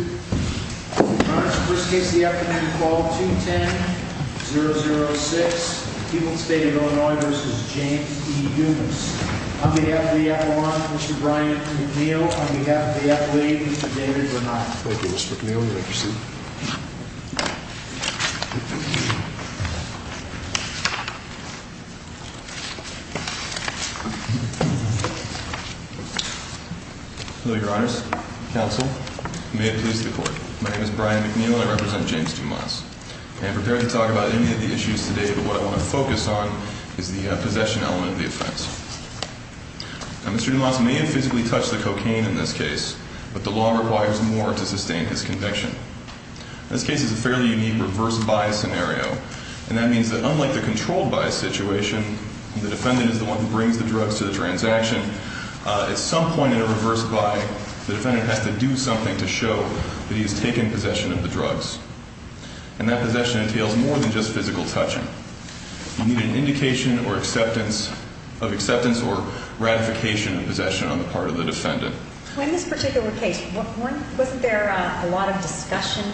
On behalf of the athlete, Mr. David Bernal. Thank you, Mr. McNeil. You may proceed. Hello, your honors, counsel. May it please the court. My name is Brian McNeil and I represent James Dumas. I am prepared to talk about any of the issues today, but what I want to focus on is the possession element of the offense. Mr. Dumas may have physically touched the cocaine in this case, but the law requires more to sustain his conviction. This case is a fairly unique reverse buy scenario. And that means that unlike the controlled buy situation, the defendant is the one who brings the drugs to the transaction. At some point in a reverse buy, the defendant has to do something to show that he has taken possession of the drugs. And that possession entails more than just physical touching. You need an indication of acceptance or ratification of possession on the part of the defendant. In this particular case, wasn't there a lot of discussion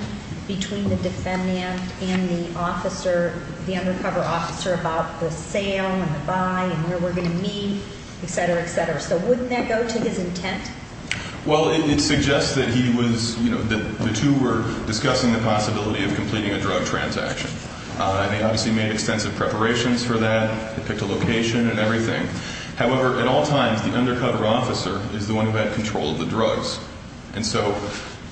between the defendant and the undercover officer about the sale and the buy and where we're going to meet, etc., etc.? So wouldn't that go to his intent? Well, it suggests that he was, you know, that the two were discussing the possibility of completing a drug transaction. And they obviously made extensive preparations for that. They picked a location and everything. However, at all times, the undercover officer is the one who had control of the drugs. And so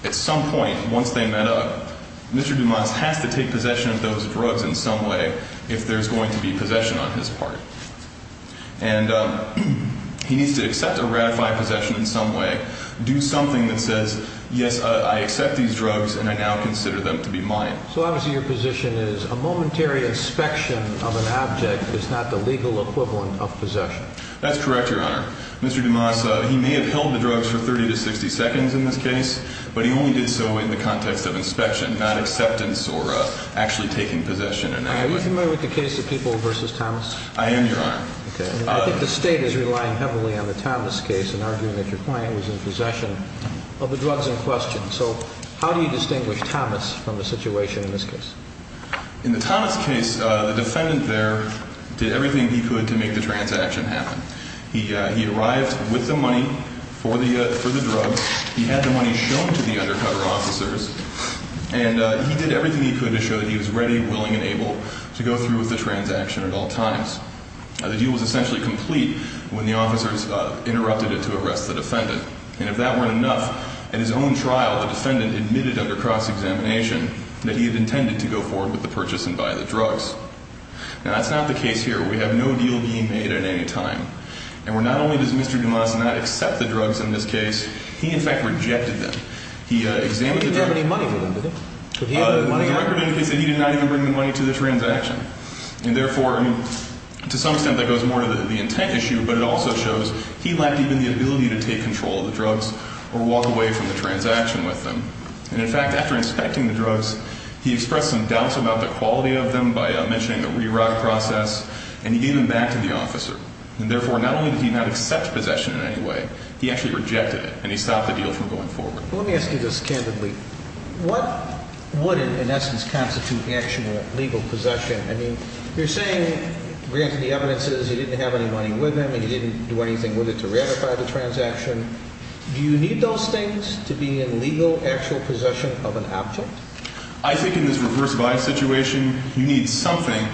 at some point, once they met up, Mr. Dumas has to take possession of those drugs in some way if there's going to be possession on his part. And he needs to accept or ratify possession in some way, do something that says, yes, I accept these drugs and I now consider them to be mine. So obviously your position is a momentary inspection of an object is not the legal equivalent of possession. That's correct, Your Honor. Mr. Dumas, he may have held the drugs for 30 to 60 seconds in this case, but he only did so in the context of inspection, not acceptance or actually taking possession in that way. Are you familiar with the case of People v. Thomas? I am, Your Honor. Okay. I think the State is relying heavily on the Thomas case in arguing that your client was in possession of the drugs in question. So how do you distinguish Thomas from the situation in this case? In the Thomas case, the defendant there did everything he could to make the transaction happen. He arrived with the money for the drugs. He had the money shown to the undercover officers. And he did everything he could to show that he was ready, willing, and able to go through with the transaction at all times. The deal was essentially complete when the officers interrupted it to arrest the defendant. And if that weren't enough, at his own trial, the defendant admitted under cross-examination that he had intended to go forward with the purchase and buy the drugs. Now, that's not the case here. We have no deal being made at any time. And not only does Mr. Dumas not accept the drugs in this case, he in fact rejected them. He examined the drugs. He didn't have any money with him, did he? The record indicates that he did not even bring the money to the transaction. And, therefore, to some extent that goes more to the intent issue, but it also shows he lacked even the ability to take control of the drugs or walk away from the transaction with them. And, in fact, after inspecting the drugs, he expressed some doubts about the quality of them by mentioning the reroute process. And he gave them back to the officer. And, therefore, not only did he not accept possession in any way, he actually rejected it, and he stopped the deal from going forward. Let me ask you this candidly. What would, in essence, constitute actual legal possession? I mean, you're saying, granted the evidence is he didn't have any money with him and he didn't do anything with it to ratify the transaction. Do you need those things to be in legal, actual possession of an object? I think in this reverse bias situation, you need something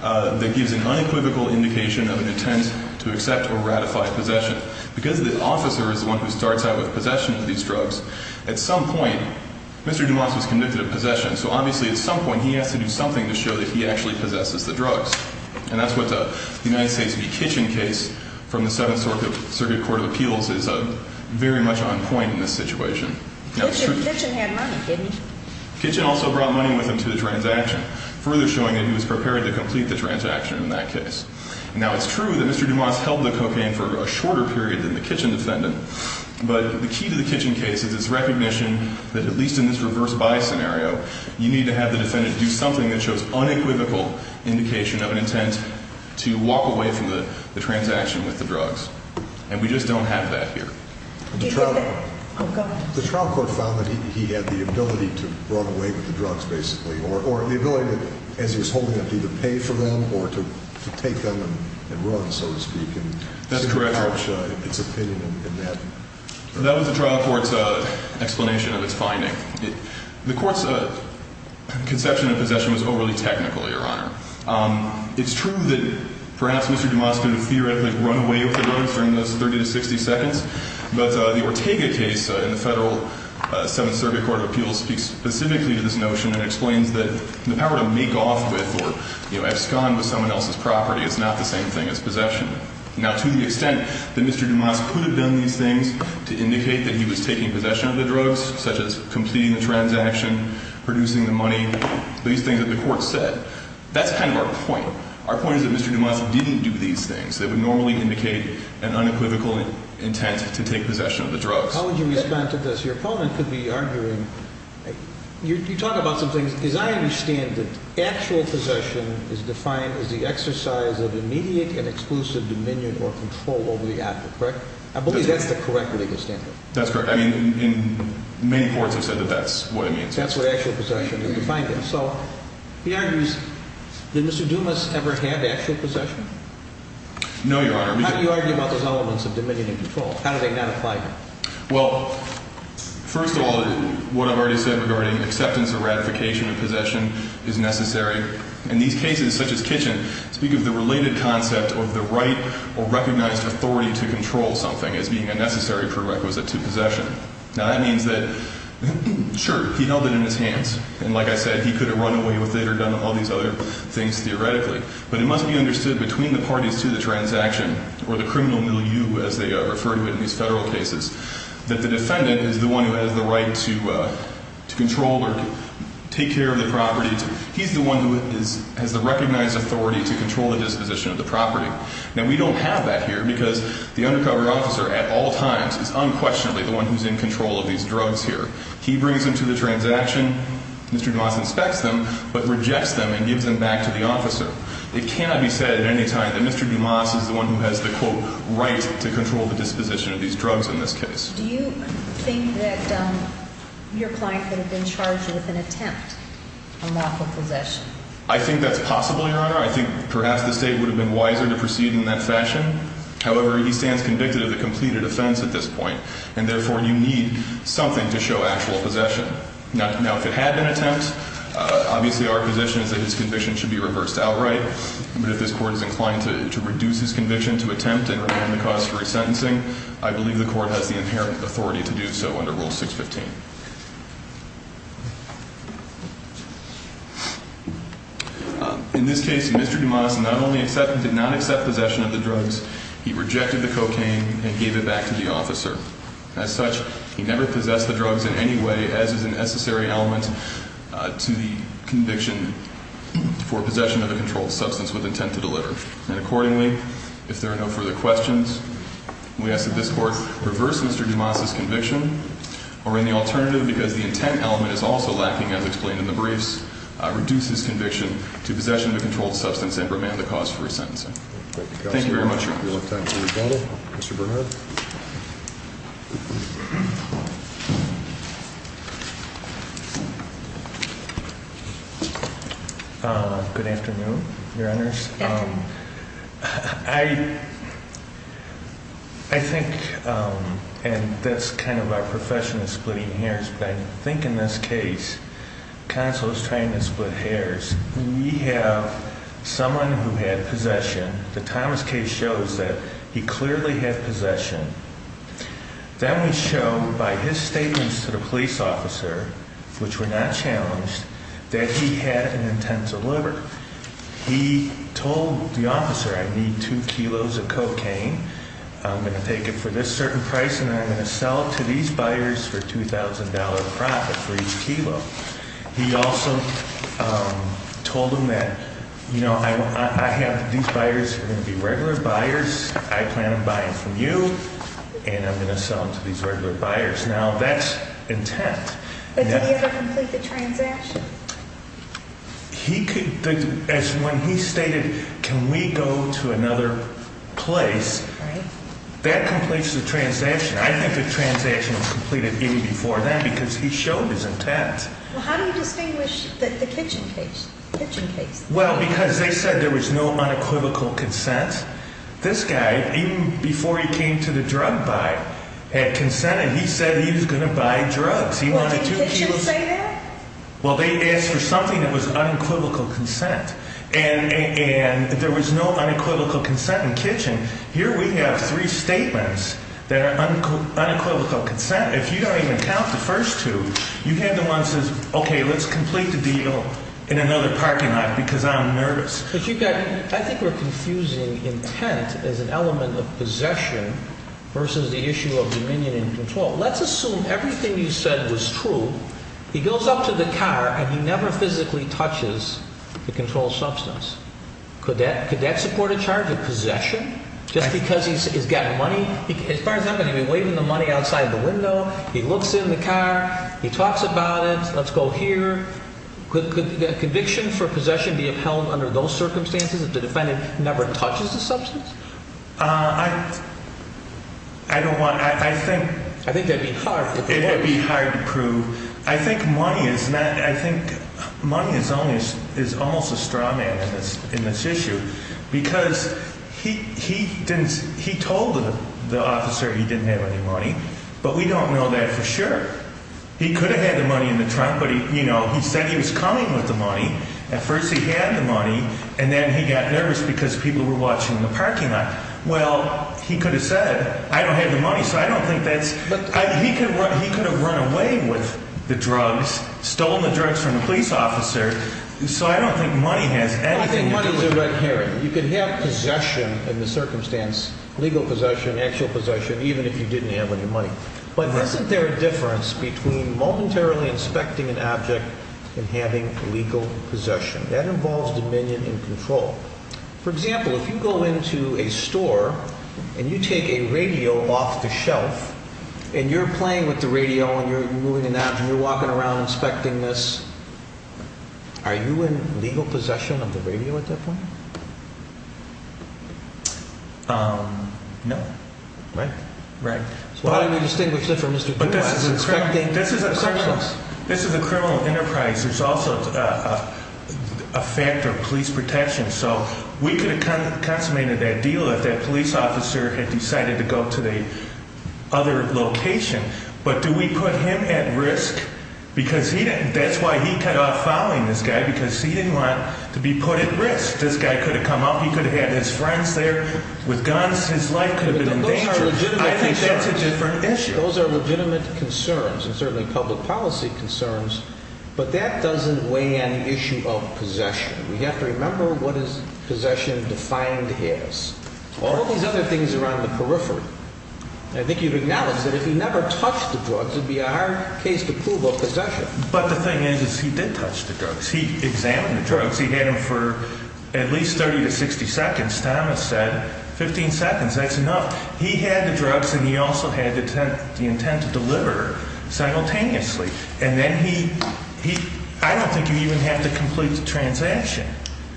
that gives an unequivocal indication of an intent to accept or ratify possession. But because the officer is the one who starts out with possession of these drugs, at some point, Mr. Dumas was convicted of possession. So, obviously, at some point, he has to do something to show that he actually possesses the drugs. And that's what the United States v. Kitchen case from the Seventh Circuit Court of Appeals is very much on point in this situation. Kitchen had money, didn't he? Kitchen also brought money with him to the transaction, further showing that he was prepared to complete the transaction in that case. Now, it's true that Mr. Dumas held the cocaine for a shorter period than the Kitchen defendant, but the key to the Kitchen case is its recognition that, at least in this reverse bias scenario, you need to have the defendant do something that shows unequivocal indication of an intent to walk away from the transaction with the drugs. And we just don't have that here. The trial court found that he had the ability to run away with the drugs, basically, or the ability, as he was holding them, to either pay for them or to take them and run, so to speak. That's correct. And to couch its opinion in that. That was the trial court's explanation of its finding. The court's conception of possession was overly technical, Your Honor. It's true that perhaps Mr. Dumas could have theoretically run away with the drugs during those 30 to 60 seconds, but the Ortega case in the Federal Seventh Circuit Court of Appeals speaks specifically to this notion and explains that the power to make off with or abscond with someone else's property is not the same thing as possession. Now, to the extent that Mr. Dumas could have done these things to indicate that he was taking possession of the drugs, such as completing the transaction, producing the money, these things that the court said, that's kind of our point. Our point is that Mr. Dumas didn't do these things that would normally indicate an unequivocal intent to take possession of the drugs. How would you respond to this? Your opponent could be arguing, you talk about some things. As I understand it, actual possession is defined as the exercise of immediate and exclusive dominion or control over the actor, correct? I believe that's the correct legal standard. That's correct. I mean, many courts have said that that's what it means. That's what actual possession is defined as. So he argues, did Mr. Dumas ever have actual possession? No, Your Honor. How do you argue about those elements of dominion and control? How do they not apply here? Well, first of all, what I've already said regarding acceptance or ratification of possession is necessary. And these cases, such as Kitchen, speak of the related concept of the right or recognized authority to control something as being a necessary prerequisite to possession. Now, that means that, sure, he held it in his hands. And like I said, he could have run away with it or done all these other things theoretically. But it must be understood between the parties to the transaction or the criminal milieu, as they refer to it in these federal cases, that the defendant is the one who has the right to control or take care of the property. He's the one who has the recognized authority to control the disposition of the property. Now, we don't have that here because the undercover officer at all times is unquestionably the one who's in control of these drugs here. He brings them to the transaction, Mr. Dumas inspects them, but rejects them and gives them back to the officer. It cannot be said at any time that Mr. Dumas is the one who has the, quote, right to control the disposition of these drugs in this case. Do you think that your client could have been charged with an attempt on lawful possession? I think that's possible, Your Honor. I think perhaps the State would have been wiser to proceed in that fashion. However, he stands convicted of the completed offense at this point, and therefore you need something to show actual possession. Now, if it had been an attempt, obviously our position is that his conviction should be reversed outright. But if this court is inclined to reduce his conviction to attempt and remain the cause for resentencing, I believe the court has the inherent authority to do so under Rule 615. In this case, Mr. Dumas not only did not accept possession of the drugs, he rejected the cocaine and gave it back to the officer. As such, he never possessed the drugs in any way, as is an necessary element to the conviction for possession of a controlled substance with intent to deliver. And accordingly, if there are no further questions, we ask that this court reverse Mr. Dumas's conviction, or in the alternative, because the intent element is also lacking as explained in the briefs, reduce his conviction to possession of a controlled substance and remain the cause for resentencing. Thank you very much, Your Honor. We don't have time for rebuttal. Mr. Bernhardt. Good afternoon, Your Honors. Thank you. I think, and that's kind of our profession is splitting hairs, but I think in this case, counsel is trying to split hairs. We have someone who had possession. The Thomas case shows that he clearly had possession. Then we show by his statements to the police officer, which were not challenged, that he had an intent to deliver. He told the officer, I need two kilos of cocaine. I'm going to take it for this certain price, and I'm going to sell it to these buyers for $2,000 profit for each kilo. He also told him that, you know, I have these buyers who are going to be regular buyers. I plan on buying from you, and I'm going to sell them to these regular buyers. Now, that's intent. But did he ever complete the transaction? He could, as when he stated, can we go to another place, that completes the transaction. I think the transaction was completed even before then because he showed his intent. Well, how do you distinguish the Kitchen case? Well, because they said there was no unequivocal consent. This guy, even before he came to the drug buy, had consented. He said he was going to buy drugs. He wanted two kilos. Well, did Kitchen say that? Well, they asked for something that was unequivocal consent, and there was no unequivocal consent in Kitchen. Here we have three statements that are unequivocal consent. If you don't even count the first two, you have the one that says, okay, let's complete the deal in another parking lot because I'm nervous. I think we're confusing intent as an element of possession versus the issue of dominion and control. Let's assume everything you said was true. He goes up to the car, and he never physically touches the controlled substance. Could that support a charge of possession just because he's got money? As far as I'm concerned, he'd be waving the money outside the window. He looks in the car. He talks about it. Let's go here. Could conviction for possession be upheld under those circumstances if the defendant never touches the substance? I don't want to. I think it would be hard to prove. I think money is almost a straw man in this issue because he told the officer he didn't have any money, but we don't know that for sure. He could have had the money in the trunk, but he said he was coming with the money. At first he had the money, and then he got nervous because people were watching in the parking lot. Well, he could have said, I don't have the money, so I don't think that's – he could have run away with the drugs, stolen the drugs from the police officer, so I don't think money has anything to do with it. I think money is a red herring. You can have possession in the circumstance, legal possession, actual possession, even if you didn't have any money. But isn't there a difference between momentarily inspecting an object and having legal possession? That involves dominion and control. For example, if you go into a store and you take a radio off the shelf, and you're playing with the radio and you're moving it out and you're walking around inspecting this, are you in legal possession of the radio at that point? No. Right. Right. So how do we distinguish that from Mr. Gould? This is a criminal enterprise. There's also a factor of police protection. So we could have consummated that deal if that police officer had decided to go to the other location, but do we put him at risk? Because he didn't – that's why he cut off following this guy, because he didn't want to be put at risk. This guy could have come up. He could have had his friends there with guns. His life could have been in danger. Those are legitimate concerns. I think that's a different issue. But that doesn't weigh any issue of possession. We have to remember what is possession defined as. All of these other things are on the periphery. I think you've acknowledged that if he never touched the drugs, it would be a hard case to prove of possession. But the thing is, is he did touch the drugs. He examined the drugs. He had them for at least 30 to 60 seconds. Thomas said 15 seconds. That's enough. He had the drugs and he also had the intent to deliver simultaneously. And then he – I don't think you even have to complete the transaction.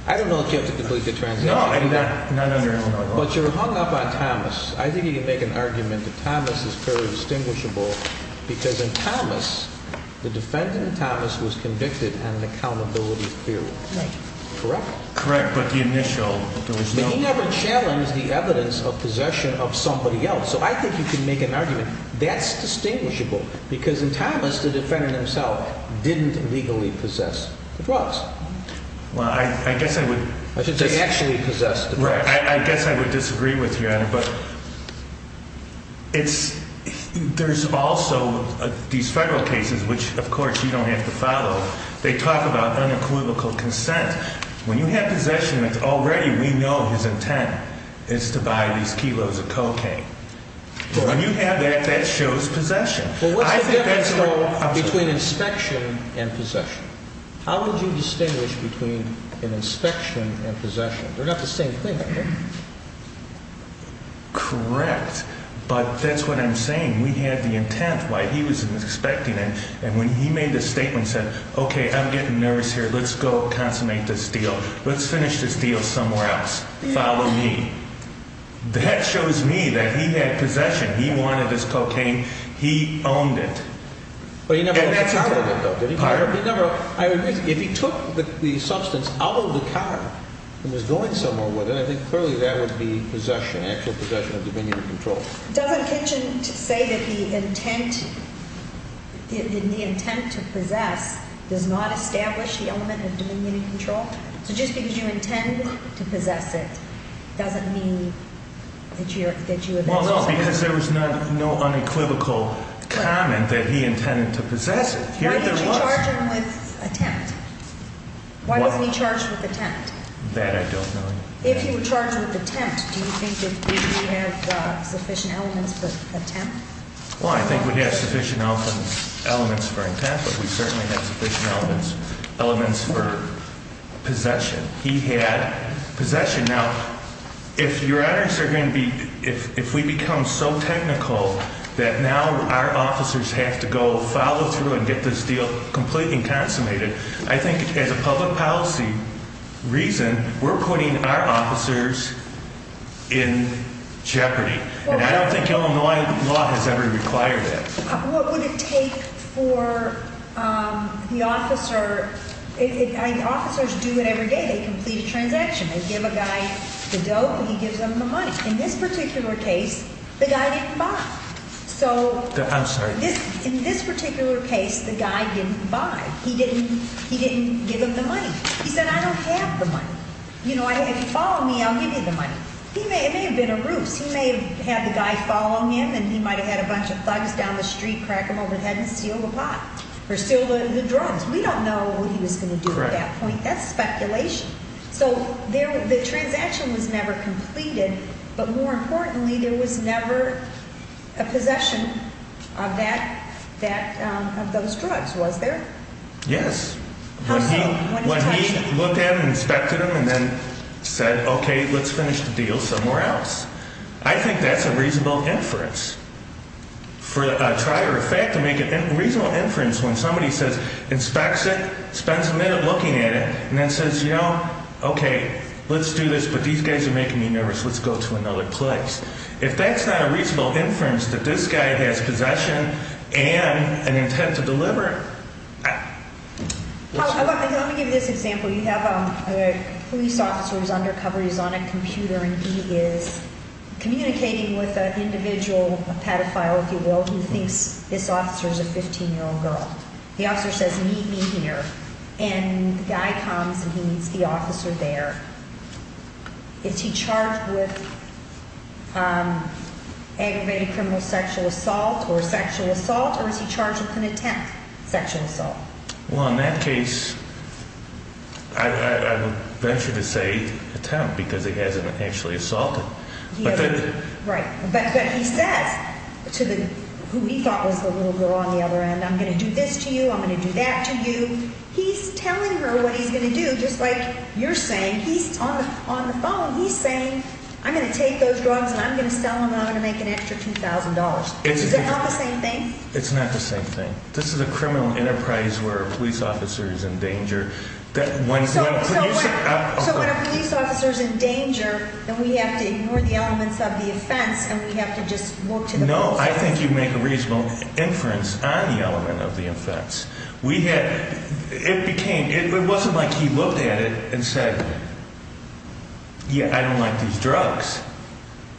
I don't know if you have to complete the transaction. No, no, no. But you're hung up on Thomas. I think you can make an argument that Thomas is fairly distinguishable because in Thomas, the defendant, Thomas, was convicted on an accountability fee. Right. Correct? Correct. But the initial – there was no – But he never challenged the evidence of possession of somebody else. So I think you can make an argument. That's distinguishable because in Thomas, the defendant himself didn't legally possess the drugs. Well, I guess I would – I should say actually possessed the drugs. Right. I guess I would disagree with you on it. But it's – there's also these federal cases, which, of course, you don't have to follow. They talk about unequivocal consent. When you have possession, it's already – we know his intent is to buy these kilos of cocaine. But when you have that, that shows possession. Well, what's the difference, though, between inspection and possession? How would you distinguish between an inspection and possession? They're not the same thing, are they? Correct. But that's what I'm saying. We have the intent, why he was expecting it. And when he made the statement, said, okay, I'm getting nervous here, let's go consummate this deal. Let's finish this deal somewhere else. Follow me. That shows me that he had possession. He wanted this cocaine. He owned it. But he never took part of it, though, did he? He never – if he took the substance out of the car and was going somewhere with it, I think clearly that would be possession, actual possession of dominion and control. Doesn't Kitchin say that the intent to possess does not establish the element of dominion and control? So just because you intend to possess it doesn't mean that you – Well, no, because there was no unequivocal comment that he intended to possess it. Why didn't you charge him with attempt? Why wasn't he charged with attempt? That I don't know. If he were charged with attempt, do you think that we have sufficient elements for attempt? Well, I think we have sufficient elements for intent, but we certainly have sufficient elements for possession. He had possession. Now, if your honors are going to be – if we become so technical that now our officers have to go follow through and get this deal completely consummated, I think as a public policy reason, we're putting our officers in jeopardy. And I don't think Illinois law has ever required that. What would it take for the officer – officers do it every day. They complete a transaction. They give a guy the dope and he gives them the money. In this particular case, the guy didn't buy. So – I'm sorry. In this particular case, the guy didn't buy. He didn't give them the money. He said, I don't have the money. You know, if you follow me, I'll give you the money. It may have been a ruse. He may have had the guy following him and he might have had a bunch of thugs down the street crack him over the head and steal the pot or steal the drugs. We don't know what he was going to do at that point. That's speculation. So the transaction was never completed, but more importantly, there was never a possession of that – of those drugs, was there? Yes. How so? When he looked at them, inspected them, and then said, okay, let's finish the deal somewhere else. I think that's a reasonable inference. For a trier of fact to make a reasonable inference when somebody says, inspects it, spends a minute looking at it, and then says, you know, okay, let's do this, but these guys are making me nervous. Let's go to another place. If that's not a reasonable inference that this guy has possession and an intent to deliver – Let me give you this example. You have a police officer who's undercover, he's on a computer, and he is communicating with an individual, a pedophile if you will, who thinks this officer is a 15-year-old girl. The officer says, meet me here. And the guy comes and he meets the officer there. Is he charged with aggravated criminal sexual assault or sexual assault, or is he charged with an attempt sexual assault? Well, in that case, I would venture to say attempt because he hasn't actually assaulted. Right. But he says to who he thought was the little girl on the other end, I'm going to do this to you, I'm going to do that to you. He's telling her what he's going to do just like you're saying. He's on the phone. He's saying, I'm going to take those drugs and I'm going to sell them and I'm going to make an extra $2,000. Is that not the same thing? It's not the same thing. This is a criminal enterprise where a police officer is in danger. So when a police officer is in danger, then we have to ignore the elements of the offense and we have to just look to the process. No, I think you make a reasonable inference on the element of the offense. It wasn't like he looked at it and said, yeah, I don't like these drugs.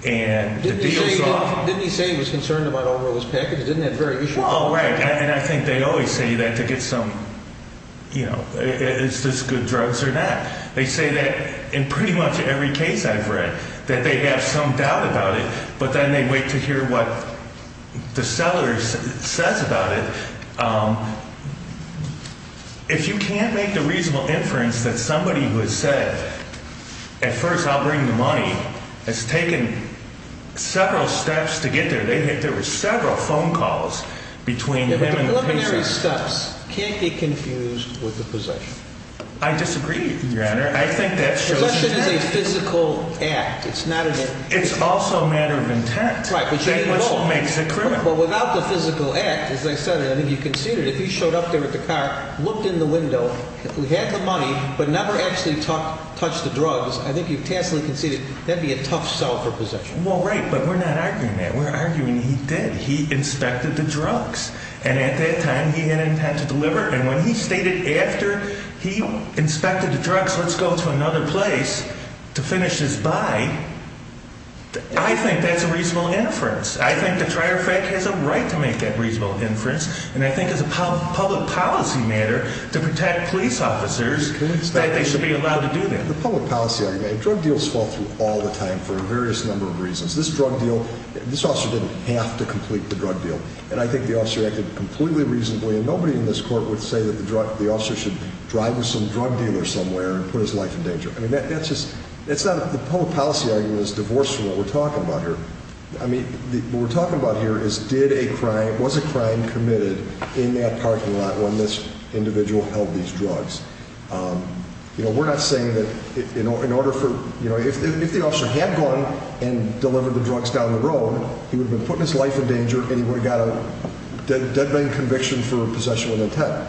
Didn't he say he was concerned about all those packages? Well, right. And I think they always say that to get some, you know, is this good drugs or not? They say that in pretty much every case I've read that they have some doubt about it, but then they wait to hear what the seller says about it. If you can't make the reasonable inference that somebody who has said at first I'll bring the money has taken several steps to get there. There were several phone calls between the preliminary steps. Can't be confused with the possession. I disagree, Your Honor. I think that's just a physical act. It's not an it's also a matter of intent. Right. Which makes a criminal without the physical act. As I said, I think you conceded if he showed up there with the car, looked in the window. We had the money, but never actually touched the drugs. I think you can see that'd be a tough sell for possession. Well, right. But we're not arguing that. We're arguing he did. He inspected the drugs. And at that time, he had intent to deliver. And when he stated after he inspected the drugs, let's go to another place to finish this by. I think that's a reasonable inference. I think the trier fact has a right to make that reasonable inference. And I think it's a public policy matter to protect police officers that they should be allowed to do that. The public policy argument drug deals fall through all the time for a various number of reasons. This drug deal, this officer didn't have to complete the drug deal. And I think the officer acted completely reasonably. And nobody in this court would say that the officer should drive with some drug dealer somewhere and put his life in danger. I mean, that's just it's not the public policy argument is divorced from what we're talking about here. I mean, what we're talking about here is did a crime was a crime committed in that parking lot when this individual held these drugs. You know, we're not saying that, you know, in order for, you know, if the officer had gone and delivered the drugs down the road, he would have been putting his life in danger and he would have got a dead man conviction for possession with intent.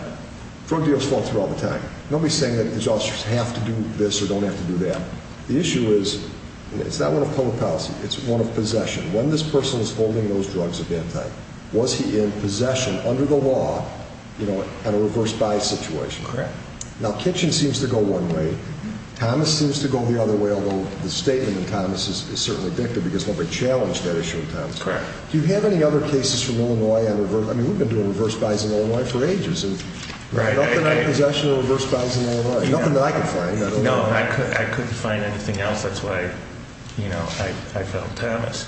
Drug deals fall through all the time. Nobody's saying that these officers have to do this or don't have to do that. The issue is it's not one of public policy. It's one of possession. When this person is holding those drugs of that type, was he in possession under the law, you know, at a reverse bias situation? Correct. Now, kitchen seems to go one way. Thomas seems to go the other way, although the statement in Thomas is certainly victor because nobody challenged that issue. Correct. Do you have any other cases from Illinois? I mean, we've been doing reverse bias in Illinois for ages. Right. Possession of reverse bias in Illinois. Nothing that I could find. No, I couldn't find anything else. That's why, you know, I felt Thomas.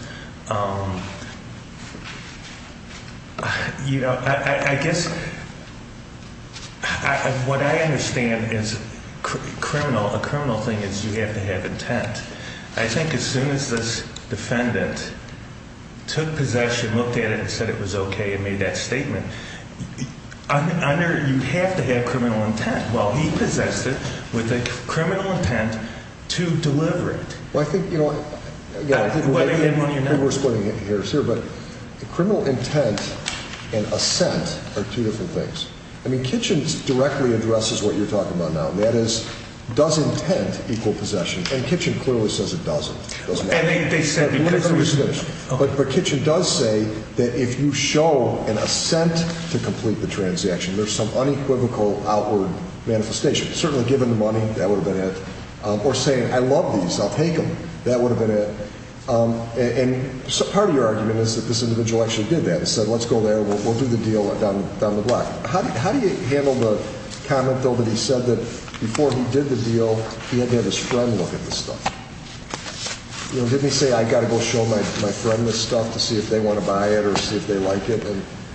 You know, I guess what I understand is criminal. The criminal thing is you have to have intent. I think as soon as this defendant took possession, looked at it and said it was OK and made that statement, I know you have to have criminal intent. Well, he possessed it with a criminal intent to deliver it. Maybe we're splitting hairs here, but criminal intent and assent are two different things. I mean, kitchen directly addresses what you're talking about now. That is, does intent equal possession? And kitchen clearly says it doesn't. And they said because it was finished. But kitchen does say that if you show an assent to complete the transaction, there's some unequivocal outward manifestation. Certainly giving the money, that would have been it. Or saying I love these, I'll take them, that would have been it. And part of your argument is that this individual actually did that and said let's go there, we'll do the deal down the block. How do you handle the comment, though, that he said that before he did the deal, he had to have his friend look at the stuff? You know, did he say I've got to go show my friend this stuff to see if they want to buy it or see if they like it?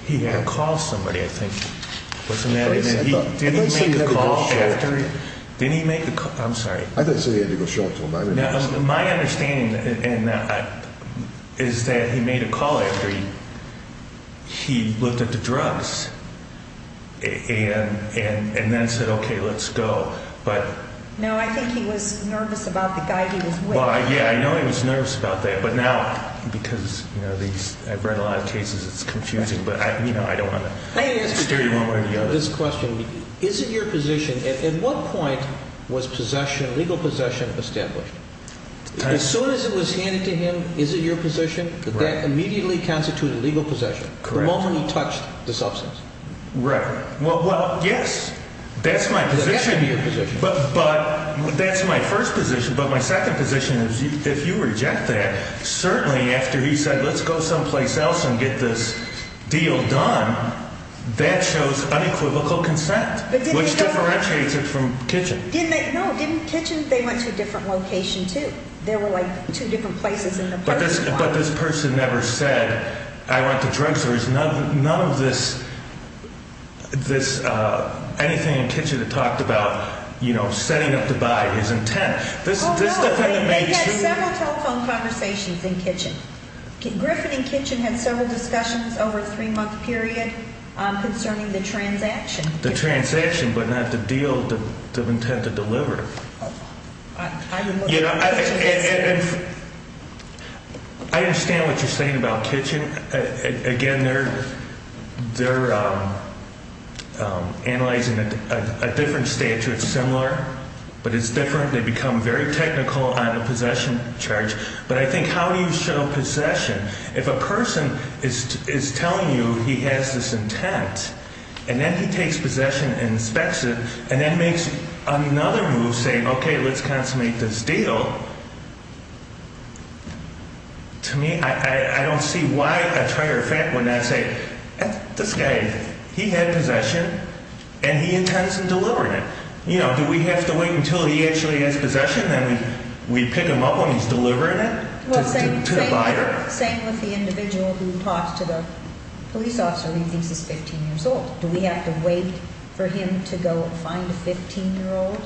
He had called somebody, I think. Didn't he make a call after? Didn't he make a call? I'm sorry. I didn't say he had to go show it to them. My understanding is that he made a call after he looked at the drugs and then said okay, let's go. No, I think he was nervous about the guy he was with. Yeah, I know he was nervous about that. But now, because I've read a lot of cases, it's confusing. But, you know, I don't want to steer you one way or the other. I ask you this question. Is it your position, at what point was possession, legal possession established? As soon as it was handed to him, is it your position that that immediately constituted legal possession? Correct. The moment he touched the substance. Right. Well, yes, that's my position. It has to be your position. But that's my first position. But my second position is if you reject that, certainly after he said let's go someplace else and get this deal done, that shows unequivocal consent, which differentiates it from kitchen. No, didn't kitchen, they went to a different location too. There were like two different places in the apartment block. But this person never said I went to drug stores. None of this, anything in kitchen that talked about, you know, setting up the buy is intent. Oh, no. We had several telephone conversations in kitchen. Griffin and kitchen had several discussions over a three-month period concerning the transaction. The transaction, but not the deal, the intent to deliver. You know, I understand what you're saying about kitchen. Again, they're analyzing a different statute, similar, but it's different. They become very technical on a possession charge. But I think how do you show possession? If a person is telling you he has this intent and then he takes possession and inspects it and then makes another move saying, okay, let's consummate this deal, to me, I don't see why a trier of fact would not say, this guy, he had possession and he intends on delivering it. You know, do we have to wait until he actually has possession, then we pick him up when he's delivering it to the buyer? Same with the individual who talks to the police officer when he thinks he's 15 years old. Do we have to wait for him to go and find a 15-year-old?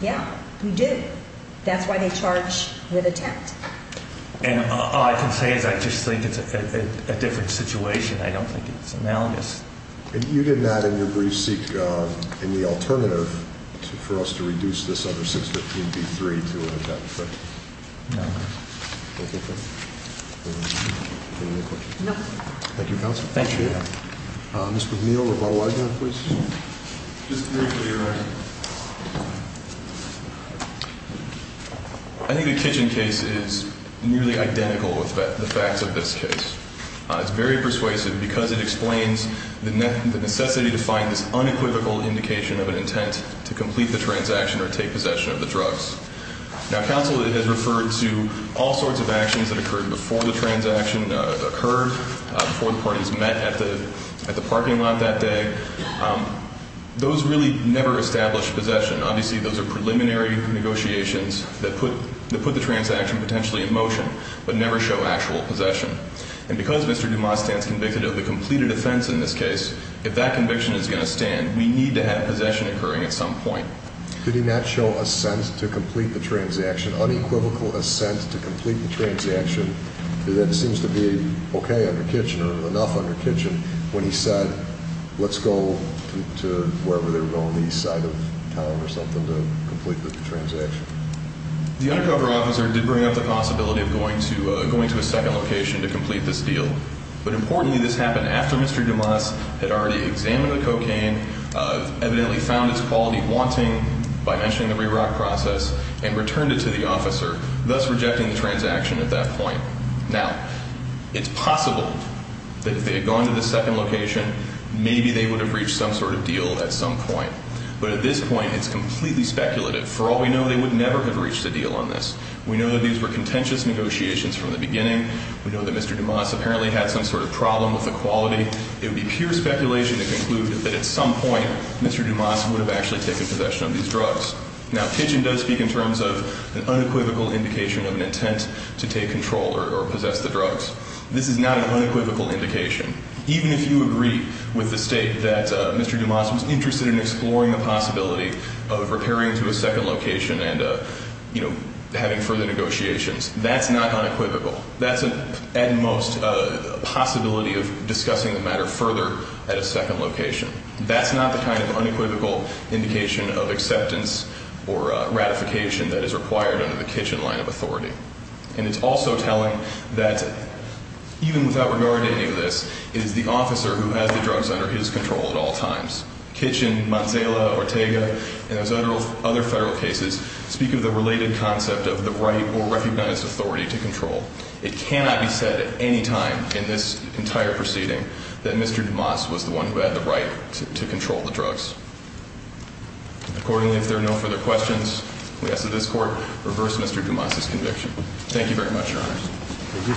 Yeah, we do. That's why they charge with intent. And all I can say is I just think it's a different situation. I don't think it's analogous. And you did not, in your brief, seek any alternative for us to reduce this other 615b-3 to an attempted theft? No. Thank you. Any other questions? No. Thank you, Counselor. Thank you. Mr. McNeil, rebuttal item, please. Just briefly, Your Honor. I think the Kitchen case is nearly identical with the facts of this case. It's very persuasive because it explains the necessity to find this unequivocal indication of an intent to complete the transaction or take possession of the drugs. Now, Counsel has referred to all sorts of actions that occurred before the transaction occurred, before the parties met at the parking lot that day. Those really never established possession. Obviously, those are preliminary negotiations that put the transaction potentially in motion but never show actual possession. And because Mr. Dumas stands convicted of the completed offense in this case, if that conviction is going to stand, we need to have possession occurring at some point. Did he not show a sense to complete the transaction, unequivocal a sense to complete the transaction that seems to be okay under Kitchen or enough under Kitchen when he said, let's go to wherever they were going, the east side of town or something, to complete the transaction? The undercover officer did bring up the possibility of going to a second location to complete this deal. But importantly, this happened after Mr. Dumas had already examined the cocaine, evidently found its quality wanting by mentioning the REROC process, and returned it to the officer, thus rejecting the transaction at that point. Now, it's possible that if they had gone to the second location, maybe they would have reached some sort of deal at some point. But at this point, it's completely speculative. For all we know, they would never have reached a deal on this. We know that these were contentious negotiations from the beginning. We know that Mr. Dumas apparently had some sort of problem with the quality. It would be pure speculation to conclude that at some point, Mr. Dumas would have actually taken possession of these drugs. Now, Kitchen does speak in terms of an unequivocal indication of an intent to take control or possess the drugs. This is not an unequivocal indication. Even if you agree with the State that Mr. Dumas was interested in exploring the possibility of repairing to a second location and, you know, having further negotiations, that's not unequivocal. That's at most a possibility of discussing the matter further at a second location. That's not the kind of unequivocal indication of acceptance or ratification that is required under the Kitchen line of authority. And it's also telling that even without regard to any of this, it is the officer who has the drugs under his control at all times. Kitchen, Manzala, Ortega, and those other federal cases speak of the related concept of the right or recognized authority to control. It cannot be said at any time in this entire proceeding that Mr. Dumas was the one who had the right to control the drugs. Accordingly, if there are no further questions, we ask that this Court reverse Mr. Dumas's conviction. Thank you very much, Your Honor. Thank you.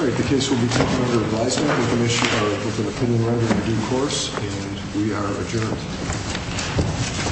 All right. The case will be taken under advisement of the Commissioner with an opinion read in due course. And we are adjourned.